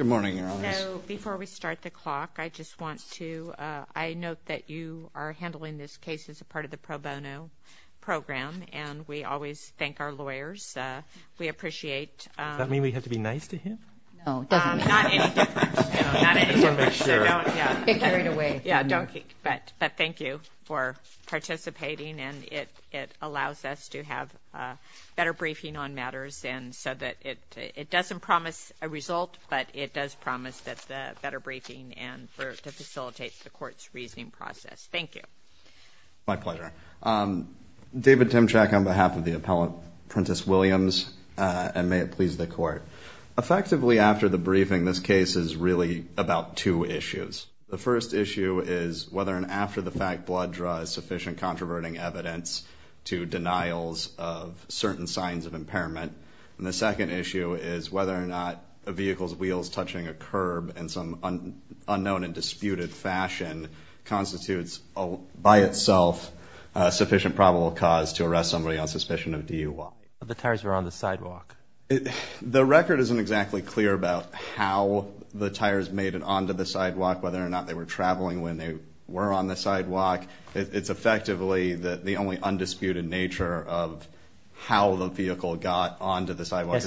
I note that you are handling this case as a part of the pro bono program, and we always thank our lawyers. Does that mean we have to be nice to him? No, it doesn't. Not any different. Thank you for participating, and it allows us to have a better briefing on matters and so that it doesn't promise a result, but it does promise that the better briefing and for to facilitate the court's reasoning process. Thank you. My pleasure. David Timchak on behalf of the appellate Prentice Williams, and may it please the court. Effectively after the briefing, this case is really about two issues. The first issue is whether and after the fact blood draws sufficient controverting evidence to denials of certain signs of impairment. And the second issue is whether or not a vehicle's wheels touching a curb in some unknown and disputed fashion constitutes by itself a sufficient probable cause to arrest somebody on suspicion of DUI. The tires were on the sidewalk. The record isn't exactly clear about how the tires made it onto the sidewalk, whether or not they were traveling when they were on the sidewalk. It's effectively the only undisputed nature of how the vehicle got onto the sidewalk.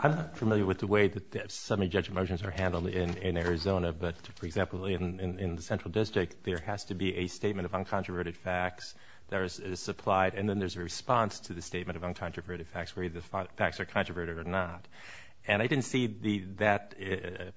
I'm not familiar with the way that semi-judge motions are handled in Arizona, but for example, in the Central District, there has to be a statement of uncontroverted facts that is supplied, and then there's a response to the statement of uncontroverted facts, whether the facts are controverted or not. And I didn't see that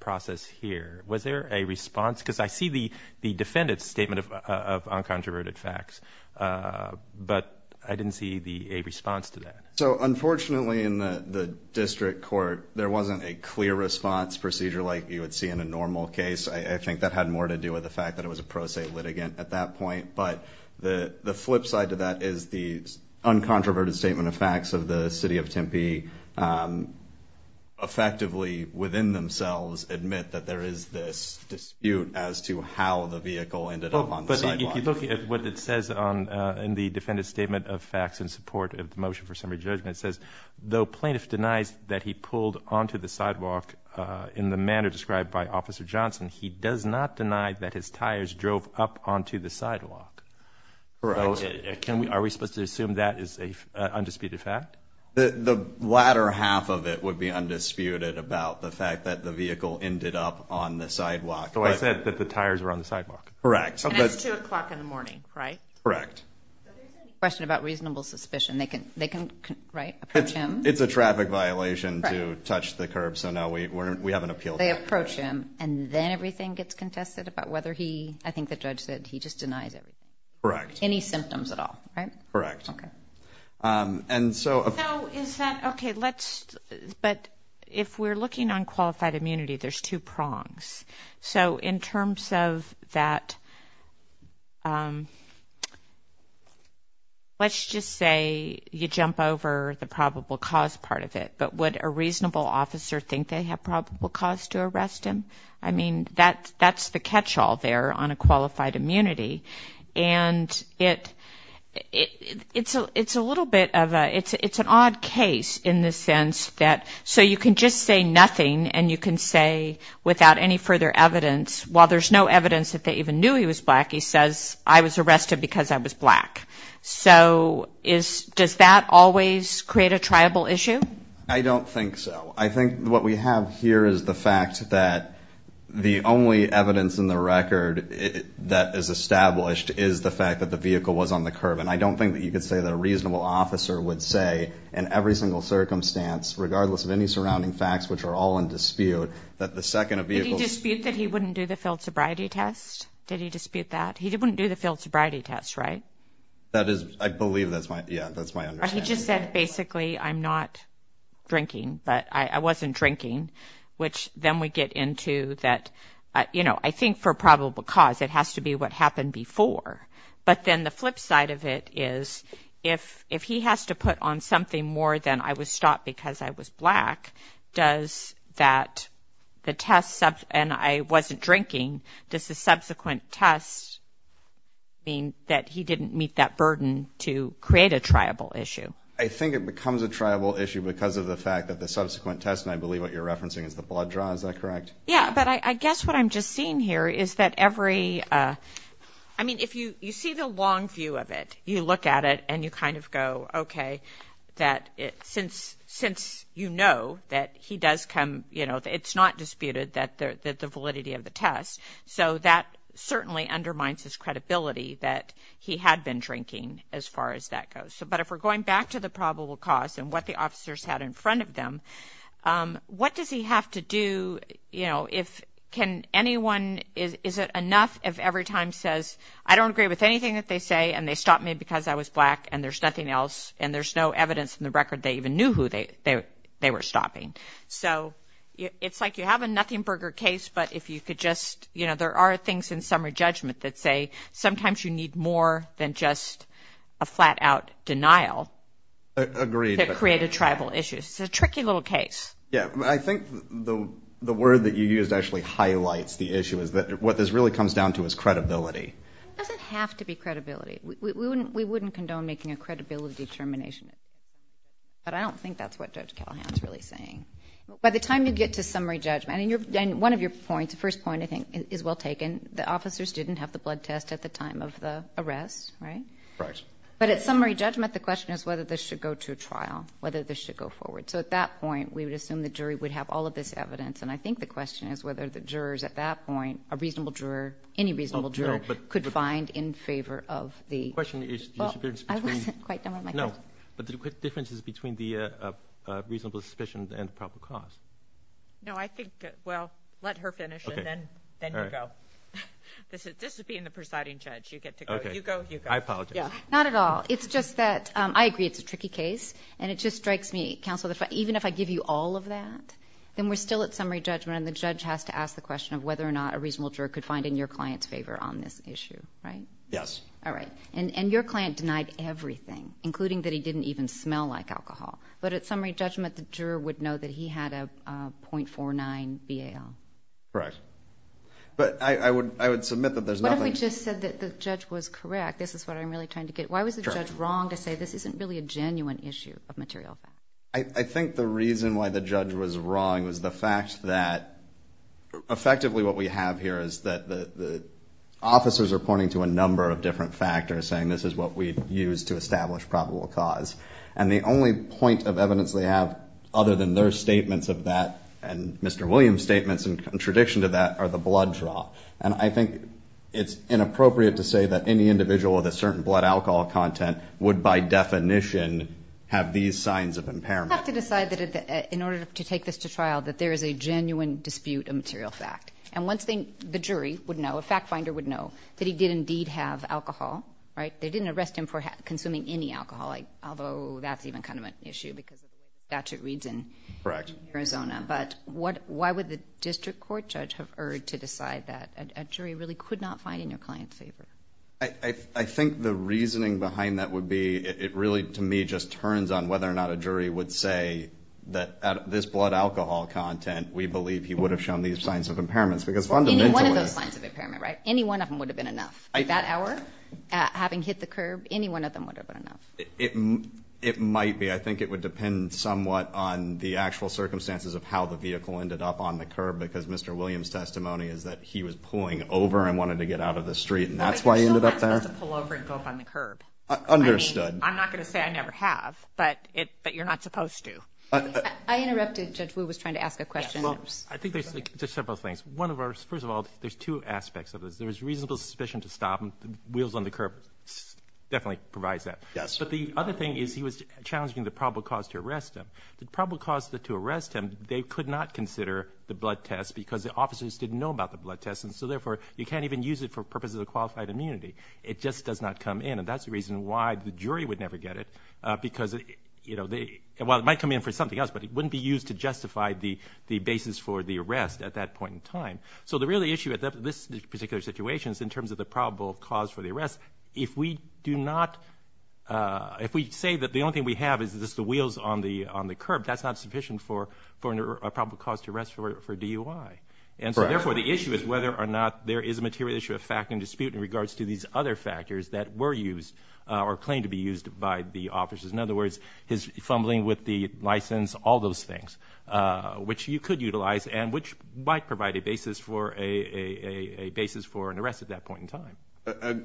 process here. Was there a response? Because I see the defendant's statement of uncontroverted facts, but I didn't see a response to that. So unfortunately in the district court, there wasn't a clear response procedure like you would see in a normal case. I think that had more to do with the fact that it was a pro se litigant at that point. But the flip side to that is the uncontroverted statement of facts of the city of Tempe effectively within themselves admit that there is this dispute as to how the vehicle ended up on the sidewalk. But if you look at what it says in the defendant's statement of facts in support of the motion for semi-judgment, it says, though plaintiff denies that he pulled onto the sidewalk in the manner described by Officer Johnson, he does not deny that his tires drove up onto the sidewalk. Are we supposed to assume that is an undisputed fact? The latter half of it would be undisputed about the fact that the vehicle ended up on the sidewalk. So I said that the tires were on the sidewalk. Correct. And it's 2 o'clock in the morning, right? Correct. But there's a question about reasonable suspicion. They can, right, approach him. It's a traffic violation to touch the curb, so now we have an appeal. They approach him, and then everything gets contested about whether he, I think the judge said he just denies everything. Correct. Any symptoms at all, right? Correct. Okay. So is that, okay, let's, but if we're looking on qualified immunity, there's two prongs. So in terms of that, let's just say you jump over the probable cause part of it, but would a reasonable officer think they have probable cause to arrest him? I mean, that's the catch-all there on a qualified immunity. And it's a little bit of a, it's an odd case in the sense that, so you can just say nothing, and you can say without any further evidence, while there's no evidence that they even knew he was black, he says, I was arrested because I was black. So does that always create a triable issue? I don't think so. I think what we have here is the fact that the only evidence in the record that is established is the fact that the vehicle was on the curb. And I don't think that you could say that a reasonable officer would say in every single circumstance, regardless of any surrounding facts, which are all in dispute, that the second a vehicle- Did he dispute that he wouldn't do the failed sobriety test? Did he dispute that? He wouldn't do the failed sobriety test, right? That is, I believe that's my, yeah, that's my understanding. But he just said, basically, I'm not drinking, but I wasn't drinking, which then we get into that, you know, I think for probable cause, it has to be what happened before. But then the flip side of it is, if he has to put on something more than I was stopped because I was black, does that, the test, and I wasn't drinking, does the subsequent test mean that he didn't meet that burden to create a triable issue? I think it becomes a triable issue because of the fact that the subsequent test, and I believe what you're referencing is the blood draw. Is that correct? Yeah. But I guess what I'm just seeing here is that every, I mean, if you, you see the long view of it, you look at it and you kind of go, okay, that it, since, since you know that he does come, you know, it's not disputed that the validity of the test. So that certainly undermines his credibility that he had been drinking as far as that goes. But if we're going back to the probable cause and what the officers had in front of them, what does he have to do? You know, if, can anyone, is it enough if every time says, I don't agree with anything that they say, and they stopped me because I was black and there's nothing else, and there's no evidence in the record they even knew who they, they were stopping. So it's like you have a nothing burger case, but if you could just, you know, there are things in summary judgment that say sometimes you need more than just a flat out denial. Agreed. To create a tribal issue. It's a tricky little case. Yeah. I think the word that you used actually highlights the issue is that what this really comes down to is credibility. It doesn't have to be credibility. We wouldn't condone making a credibility determination, but I don't think that's what Judge Callahan is really saying. By the time you get to summary judgment, and one of your points, the first point I think is well taken. The officers didn't have the blood test at the time of the arrest, right? Right. But at summary judgment, the question is whether this should go to a trial, whether this should go forward. So at that point, we would assume the jury would have all of this evidence, and I think the question is whether the jurors at that point, a reasonable juror, any reasonable juror could find in favor of the- The question is the difference between- I wasn't quite done with my question. No. But the difference is between the reasonable suspicion and the proper cause. No, I think, well, let her finish and then you go. This is being the presiding judge. You get to go. You go, you go. I apologize. Not at all. It's just that I agree it's a tricky case, and it just strikes me, counsel, even if I give you all of that, then we're still at summary judgment and the judge has to ask the question of whether or not a reasonable juror could find in your client's favor on this issue, right? Yes. All right. And your client denied everything, including that he didn't even smell like alcohol. But at summary judgment, the juror would know that he had a .49 BAL. Correct. But I would submit that there's nothing- What if we just said that the judge was correct? This is what I'm really trying to get. Why was the judge wrong to say this isn't really a genuine issue of material facts? I think the reason why the judge was wrong was the fact that effectively what we have here is that the officers are pointing to a number of different factors, saying this is what we've used to establish probable cause. And the only point of evidence they have, other than their statements of that and Mr. Williams' statements in contradiction to that, are the blood draw. And I think it's inappropriate to say that any individual with a certain blood alcohol content would, by definition, have these signs of impairment. We'll have to decide that in order to take this to trial, that there is a genuine dispute of material fact. And once the jury would know, a fact finder would know, that he did indeed have alcohol, right? They didn't arrest him for consuming any alcohol, although that's even kind of an issue because the statute reads in Arizona. But why would the district court judge have erred to decide that a jury really could not find in their client's favor? I think the reasoning behind that would be, it really, to me, just turns on whether or not a jury would say that out of this blood alcohol content, we believe he would have on these signs of impairments. Any one of those signs of impairment, right? Any one of them would have been enough. That hour, having hit the curb, any one of them would have been enough. It might be. I think it would depend somewhat on the actual circumstances of how the vehicle ended up on the curb, because Mr. Williams' testimony is that he was pulling over and wanted to get out of the street. And that's why he ended up there. Well, I think someone's supposed to pull over and go up on the curb. Understood. I mean, I'm not going to say I never have, but you're not supposed to. I interrupted. Judge Wu was trying to ask a question. Well, I think there's just several things. One of ours, first of all, there's two aspects of this. There was reasonable suspicion to stop him. The wheels on the curb definitely provides that. Yes. But the other thing is he was challenging the probable cause to arrest him. The probable cause to arrest him, they could not consider the blood test because the officers didn't know about the blood test. And so, therefore, you can't even use it for purposes of qualified immunity. It just does not come in. And that's the reason why the jury would never get it because, you know, they, well, it might come in for something else, but it wouldn't be used to justify the basis for the arrest at that point in time. So the real issue at this particular situation is in terms of the probable cause for the arrest. If we do not, if we say that the only thing we have is just the wheels on the curb, that's not sufficient for a probable cause to arrest for DUI. And so, therefore, the issue is whether or not there is a material issue of fact and dispute in regards to these other factors that were used or claimed to be used by the officers. In other words, his fumbling with the license, all those things, which you could utilize and which might provide a basis for an arrest at that point in time.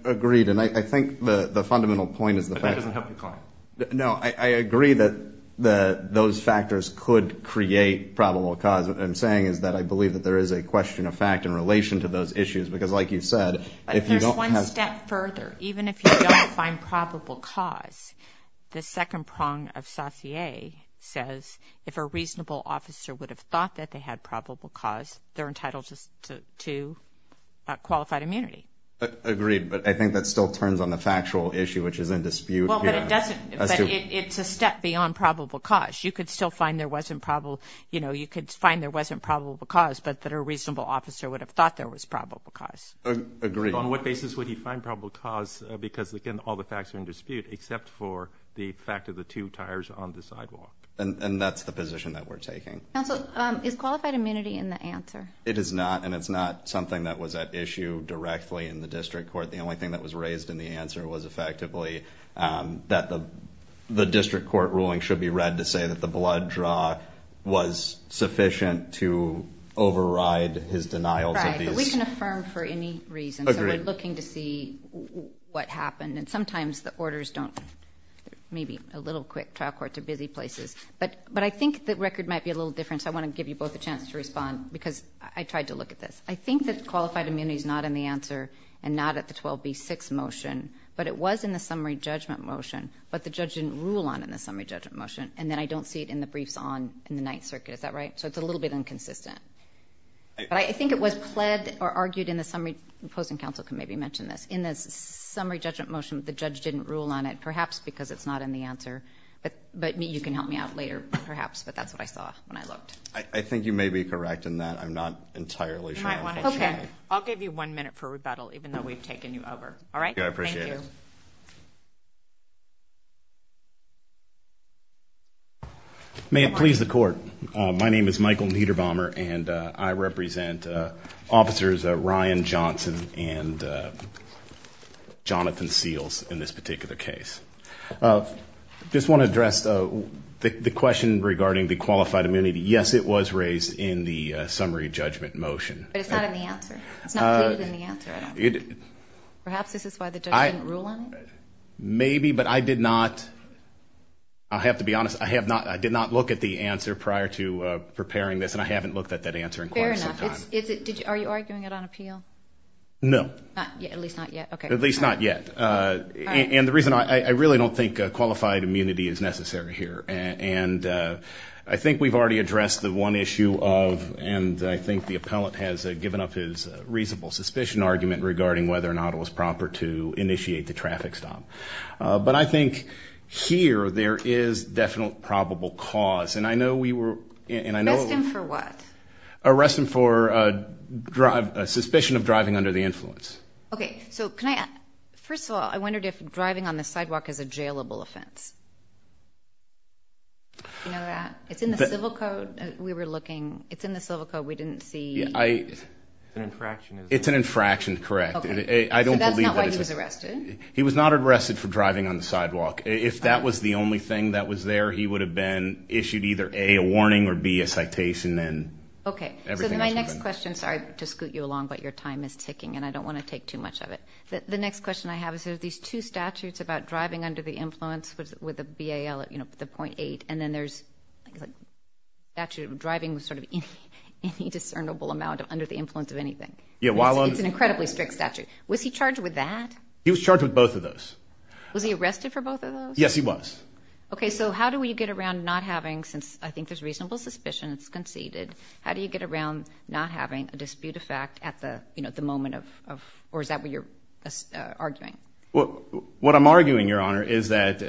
Agreed. And I think the fundamental point is the fact. But that doesn't help the claim. No. I agree that those factors could create probable cause. What I'm saying is that I believe that there is a question of fact in relation to those issues. Because like you said, if you don't have... The second prong of Saussure says, if a reasonable officer would have thought that they had probable cause, they're entitled to qualified immunity. Agreed. But I think that still turns on the factual issue, which is in dispute. Well, but it doesn't. But it's a step beyond probable cause. You could still find there wasn't probable... You know, you could find there wasn't probable cause, but that a reasonable officer would have thought there was probable cause. Agreed. On what basis would he find probable cause? Because again, all the facts are in dispute, except for the fact of the two tires on the sidewalk. And that's the position that we're taking. Counsel, is qualified immunity in the answer? It is not. And it's not something that was at issue directly in the district court. The only thing that was raised in the answer was effectively that the district court ruling should be read to say that the blood draw was sufficient to override his denials of these... Right. But we can affirm for any reason. Agreed. And so we're looking to see what happened. And sometimes the orders don't... Maybe a little quick. Trial courts are busy places. But I think the record might be a little different, so I want to give you both a chance to respond, because I tried to look at this. I think that qualified immunity is not in the answer and not at the 12B6 motion. But it was in the summary judgment motion. But the judge didn't rule on it in the summary judgment motion. And then I don't see it in the briefs on in the Ninth Circuit. Is that right? So it's a little bit inconsistent. But I think it was pled or argued in the summary... The opposing counsel can maybe mention this. In the summary judgment motion, the judge didn't rule on it, perhaps because it's not in the answer. But you can help me out later, perhaps, but that's what I saw when I looked. I think you may be correct in that. I'm not entirely sure. You might want to... Okay. I'll give you one minute for rebuttal, even though we've taken you over. All right? Okay. I appreciate it. Thank you. May it please the court. My name is Michael Niederbommer, and I represent Officers Ryan Johnson and Jonathan Seals in this particular case. I just want to address the question regarding the qualified immunity. Yes, it was raised in the summary judgment motion. But it's not in the answer. It's not included in the answer. Perhaps this is why the judge didn't rule on it? Maybe, but I did not... I have to be honest. I did not look at the answer prior to preparing this, and I haven't looked at that answer in quite some time. Fair enough. Are you arguing it on appeal? No. At least not yet. Okay. At least not yet. All right. And the reason... I really don't think qualified immunity is necessary here. And I think we've already addressed the one issue of, and I think the appellant has given up his reasonable suspicion argument regarding whether or not it was proper to initiate the traffic stop. But I think here, there is definite probable cause. And I know we were... Arrest him for what? Arrest him for suspicion of driving under the influence. Okay. So can I... First of all, I wondered if driving on the sidewalk is a jailable offense. Do you know that? It's in the civil code. We were looking. It's in the civil code. We didn't see... It's an infraction, isn't it? It's an infraction. Correct. Okay. So that's not why he was arrested? He was not arrested for driving on the sidewalk. If that was the only thing that was there, he would have been issued either, A, a warning, or B, a citation, and everything else would have been... Okay. So my next question... Sorry to scoot you along, but your time is ticking, and I don't want to take too much of it. The next question I have is, there are these two statutes about driving under the influence with a BAL, the 0.8, and then there's a statute of driving with sort of any discernible amount under the influence of anything. Yeah. While I'm... It's an incredibly strict statute. Was he charged with that? He was charged with both of those. Was he arrested for both of those? Yes, he was. Okay. So how do we get around not having... Since I think there's reasonable suspicion it's conceded, how do you get around not having a dispute of fact at the moment of... Or is that what you're arguing? Well, what I'm arguing, Your Honor, is that...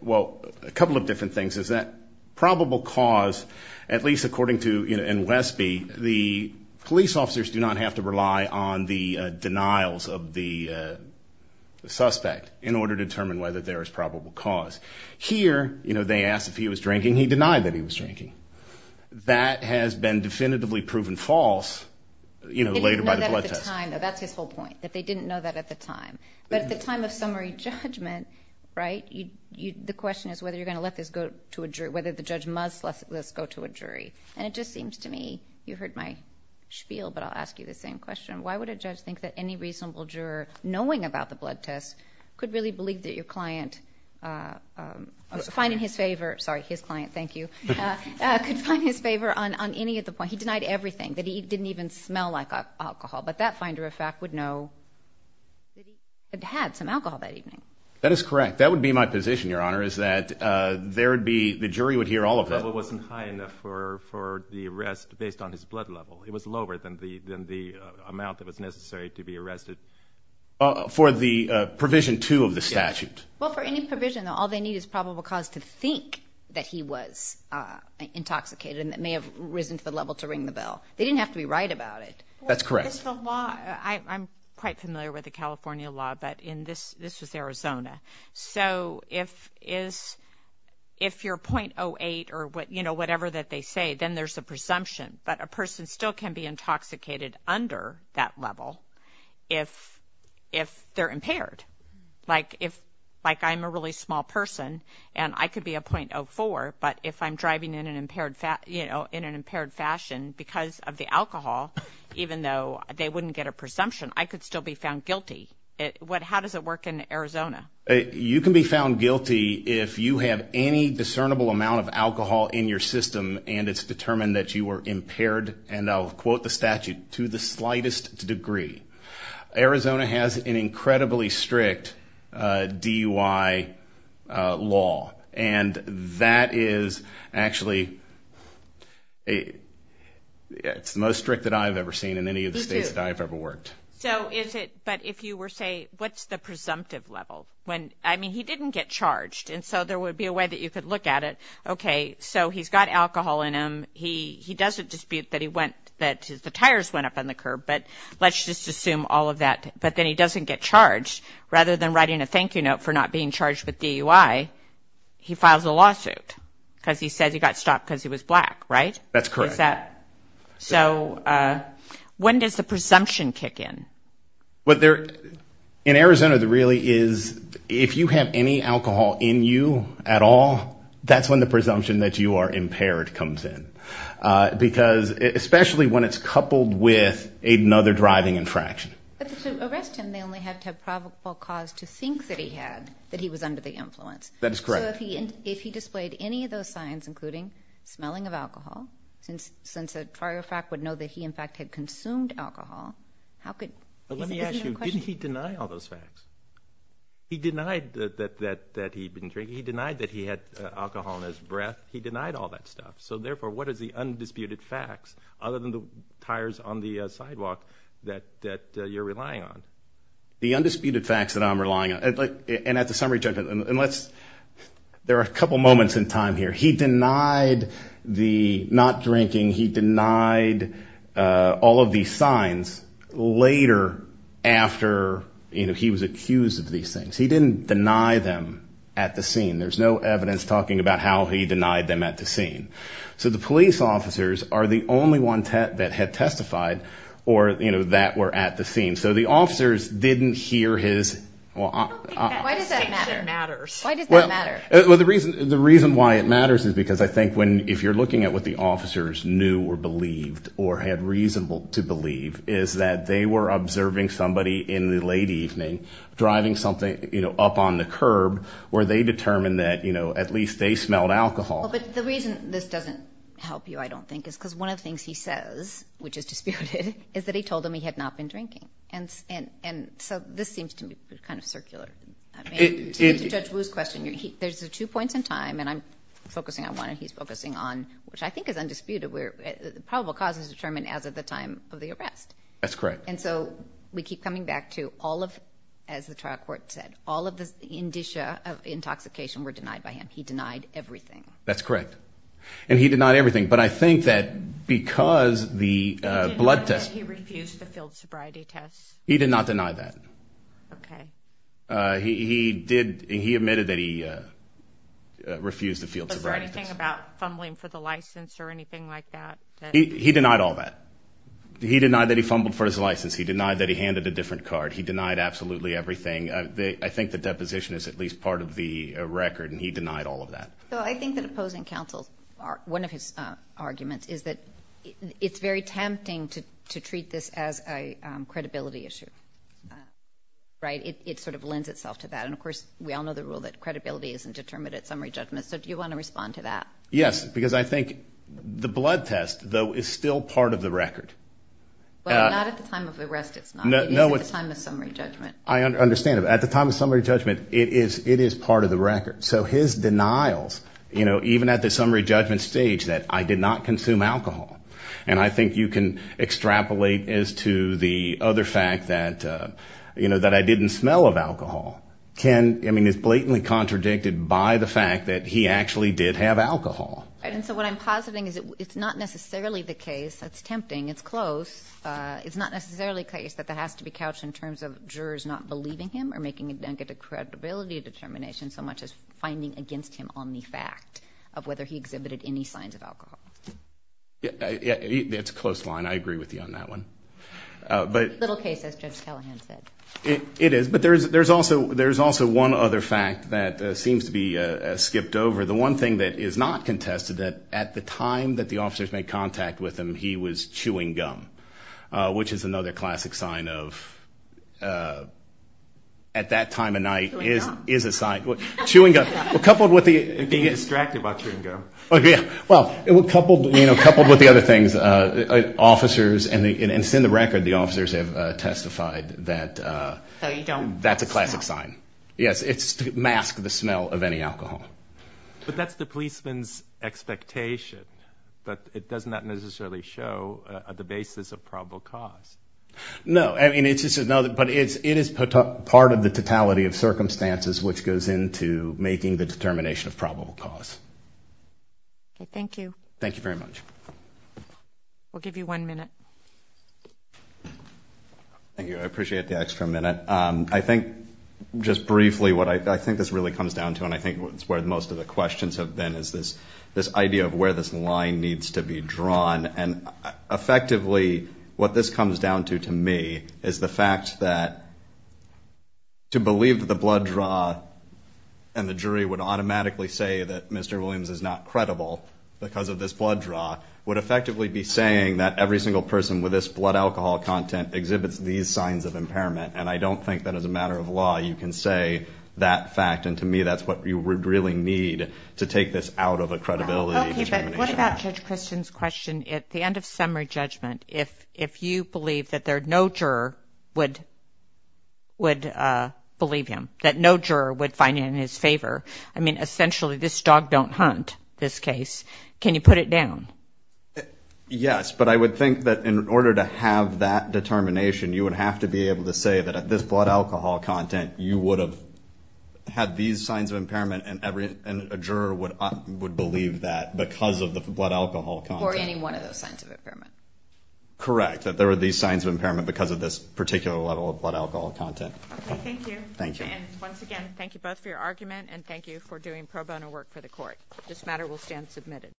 Well, a couple of different things. Is that probable cause, at least according to... go to the state of Westby, and they can go to the state of Westby, and they can go to of the suspect in order to determine whether there is probable cause. Here, they asked if he was drinking. He denied that he was drinking. That has been definitively proven false later by the blood test. They didn't know that at the time, though. That's his whole point, that they didn't know that at the time. But at the time of summary judgment, right, the question is whether you're going to let this go to a jury, whether the judge must let this go to a jury. And it just seems to me, you heard my spiel, but I'll ask you the same question, why would a judge think that any reasonable juror, knowing about the blood test, could really believe that your client, finding his favor, sorry, his client, thank you, could find his favor on any of the points? He denied everything, that he didn't even smell like alcohol. But that finder of fact would know that he had some alcohol that evening. That is correct. That would be my position, Your Honor, is that there would be, the jury would hear all of that. The level wasn't high enough for the arrest based on his blood level. It was lower than the amount that was necessary to be arrested. For the provision two of the statute. Well, for any provision, all they need is probable cause to think that he was intoxicated and that may have risen to the level to ring the bell. They didn't have to be right about it. That's correct. It's the law, I'm quite familiar with the California law, but in this, this was Arizona. So if you're .08 or whatever that they say, then there's a presumption, but a person still can be intoxicated under that level if, if they're impaired. Like if, like I'm a really small person and I could be a .04, but if I'm driving in an impaired, you know, in an impaired fashion because of the alcohol, even though they wouldn't get a presumption, I could still be found guilty. How does it work in Arizona? You can be found guilty if you have any discernible amount of alcohol in your system and it's to quote the statute, to the slightest degree. Arizona has an incredibly strict DUI law and that is actually, it's the most strict that I've ever seen in any of the states that I've ever worked. So is it, but if you were say, what's the presumptive level when, I mean, he didn't get charged and so there would be a way that you could look at it. Okay. So he's got alcohol in him. He doesn't dispute that he went, that the tires went up on the curb, but let's just assume all of that, but then he doesn't get charged rather than writing a thank you note for not being charged with DUI. He files a lawsuit because he said he got stopped because he was black, right? That's correct. Is that, so when does the presumption kick in? What there, in Arizona, the really is if you have any alcohol in you at all, that's when the presumption that you are impaired comes in, because especially when it's coupled with another driving infraction. But to arrest him, they only had to have probable cause to think that he had, that he was under the influence. That is correct. So if he, if he displayed any of those signs, including smelling of alcohol, since, since a trier of fact would know that he in fact had consumed alcohol, how could, let me ask you, didn't he deny all those facts? He denied that, that, that he'd been drinking. He denied that he had alcohol in his breath. He denied all that stuff. So therefore, what is the undisputed facts other than the tires on the sidewalk that, that you're relying on? The undisputed facts that I'm relying on, and at the summary judgment, and let's, there are a couple moments in time here. He denied the not drinking. He denied all of these signs later after, you know, he was accused of these things. He didn't deny them at the scene. There's no evidence talking about how he denied them at the scene. So the police officers are the only ones that had testified or, you know, that were at the scene. So the officers didn't hear his, well, I don't think that distinction matters. Why does that matter? Well, the reason, the reason why it matters is because I think when, if you're looking at what the officers knew or believed or had reasonable to believe is that they were observing somebody in the late evening, driving something, you know, up on the curb where they determined that, you know, at least they smelled alcohol. But the reason this doesn't help you, I don't think, is because one of the things he says, which is disputed, is that he told them he had not been drinking. And, and, and so this seems to be kind of circular, I mean, to Judge Wu's question, there's two points in time and I'm focusing on one and he's focusing on, which I think is undisputed, where the probable cause is determined as of the time of the arrest. That's correct. And so we keep coming back to all of, as the trial court said, all of the indicia of intoxication were denied by him. He denied everything. That's correct. And he denied everything. But I think that because the blood test, he refused the field sobriety test. He did not deny that. Okay. Uh, he, he did, he admitted that he, uh, uh, refused the field sobriety test. Was there anything about fumbling for the license or anything like that? He denied all that. He denied that he fumbled for his license. He denied that he handed a different card. He denied absolutely everything. I think the deposition is at least part of the record and he denied all of that. So I think that opposing counsel, one of his arguments is that it's very tempting to, to treat this as a, um, credibility issue, right? It sort of lends itself to that. And of course we all know the rule that credibility isn't determined at summary judgment. So do you want to respond to that? Yes, because I think the blood test though is still part of the record. Well, not at the time of the arrest, it's not, it is at the time of summary judgment. I understand. At the time of summary judgment, it is, it is part of the record. So his denials, you know, even at the summary judgment stage that I did not consume alcohol and I think you can extrapolate as to the other fact that, uh, you know, that I didn't smell of alcohol. Can, I mean, it's blatantly contradicted by the fact that he actually did have alcohol. Right. And so what I'm positing is it's not necessarily the case that's tempting. It's close. Uh, it's not necessarily a case that that has to be couched in terms of jurors not believing him or making a, and get a credibility determination so much as finding against him on the fact of whether he exhibited any signs of alcohol. Yeah. Yeah. It's a close line. I agree with you on that one. A little case as Judge Callahan said. It is. But there's, there's also, there's also one other fact that seems to be a skipped over. The one thing that is not contested that at the time that the officers made contact with him, he was chewing gum, uh, which is another classic sign of, uh, at that time of night is, is a sign chewing gum coupled with the distracted about chewing gum. Oh yeah. Well it would coupled, you know, coupled with the other things, uh, officers and the, and the jurors have, uh, testified that, uh, that's a classic sign. Yes. It's to mask the smell of any alcohol. But that's the policeman's expectation, but it does not necessarily show the basis of probable cause. No. I mean, it's just another, but it's, it is part of the totality of circumstances which goes into making the determination of probable cause. Okay. Thank you. Thank you very much. We'll give you one minute. Thank you. I appreciate the extra minute. Um, I think just briefly what I, I think this really comes down to and I think it's where most of the questions have been is this, this idea of where this line needs to be drawn and effectively what this comes down to to me is the fact that to believe that the blood draw and the jury would automatically say that Mr. Williams is not credible because of this blood draw would effectively be saying that every single person with this blood alcohol content exhibits these signs of impairment and I don't think that as a matter of law you can say that fact and to me that's what you would really need to take this out of a credibility determination. Okay. But what about Judge Christian's question? At the end of summary judgment, if, if you believe that there are no juror would, would, uh, believe him, that no juror would find it in his favor, I mean, essentially this dog don't hunt this case. Can you put it down? Yes, but I would think that in order to have that determination, you would have to be able to say that at this blood alcohol content, you would have had these signs of impairment and every, and a juror would, would believe that because of the blood alcohol content. Or any one of those signs of impairment. Correct. That there were these signs of impairment because of this particular level of blood alcohol content. Okay. Thank you. Thank you. And once again, thank you both for your argument and thank you for doing pro bono work for the court. This matter will stand submitted.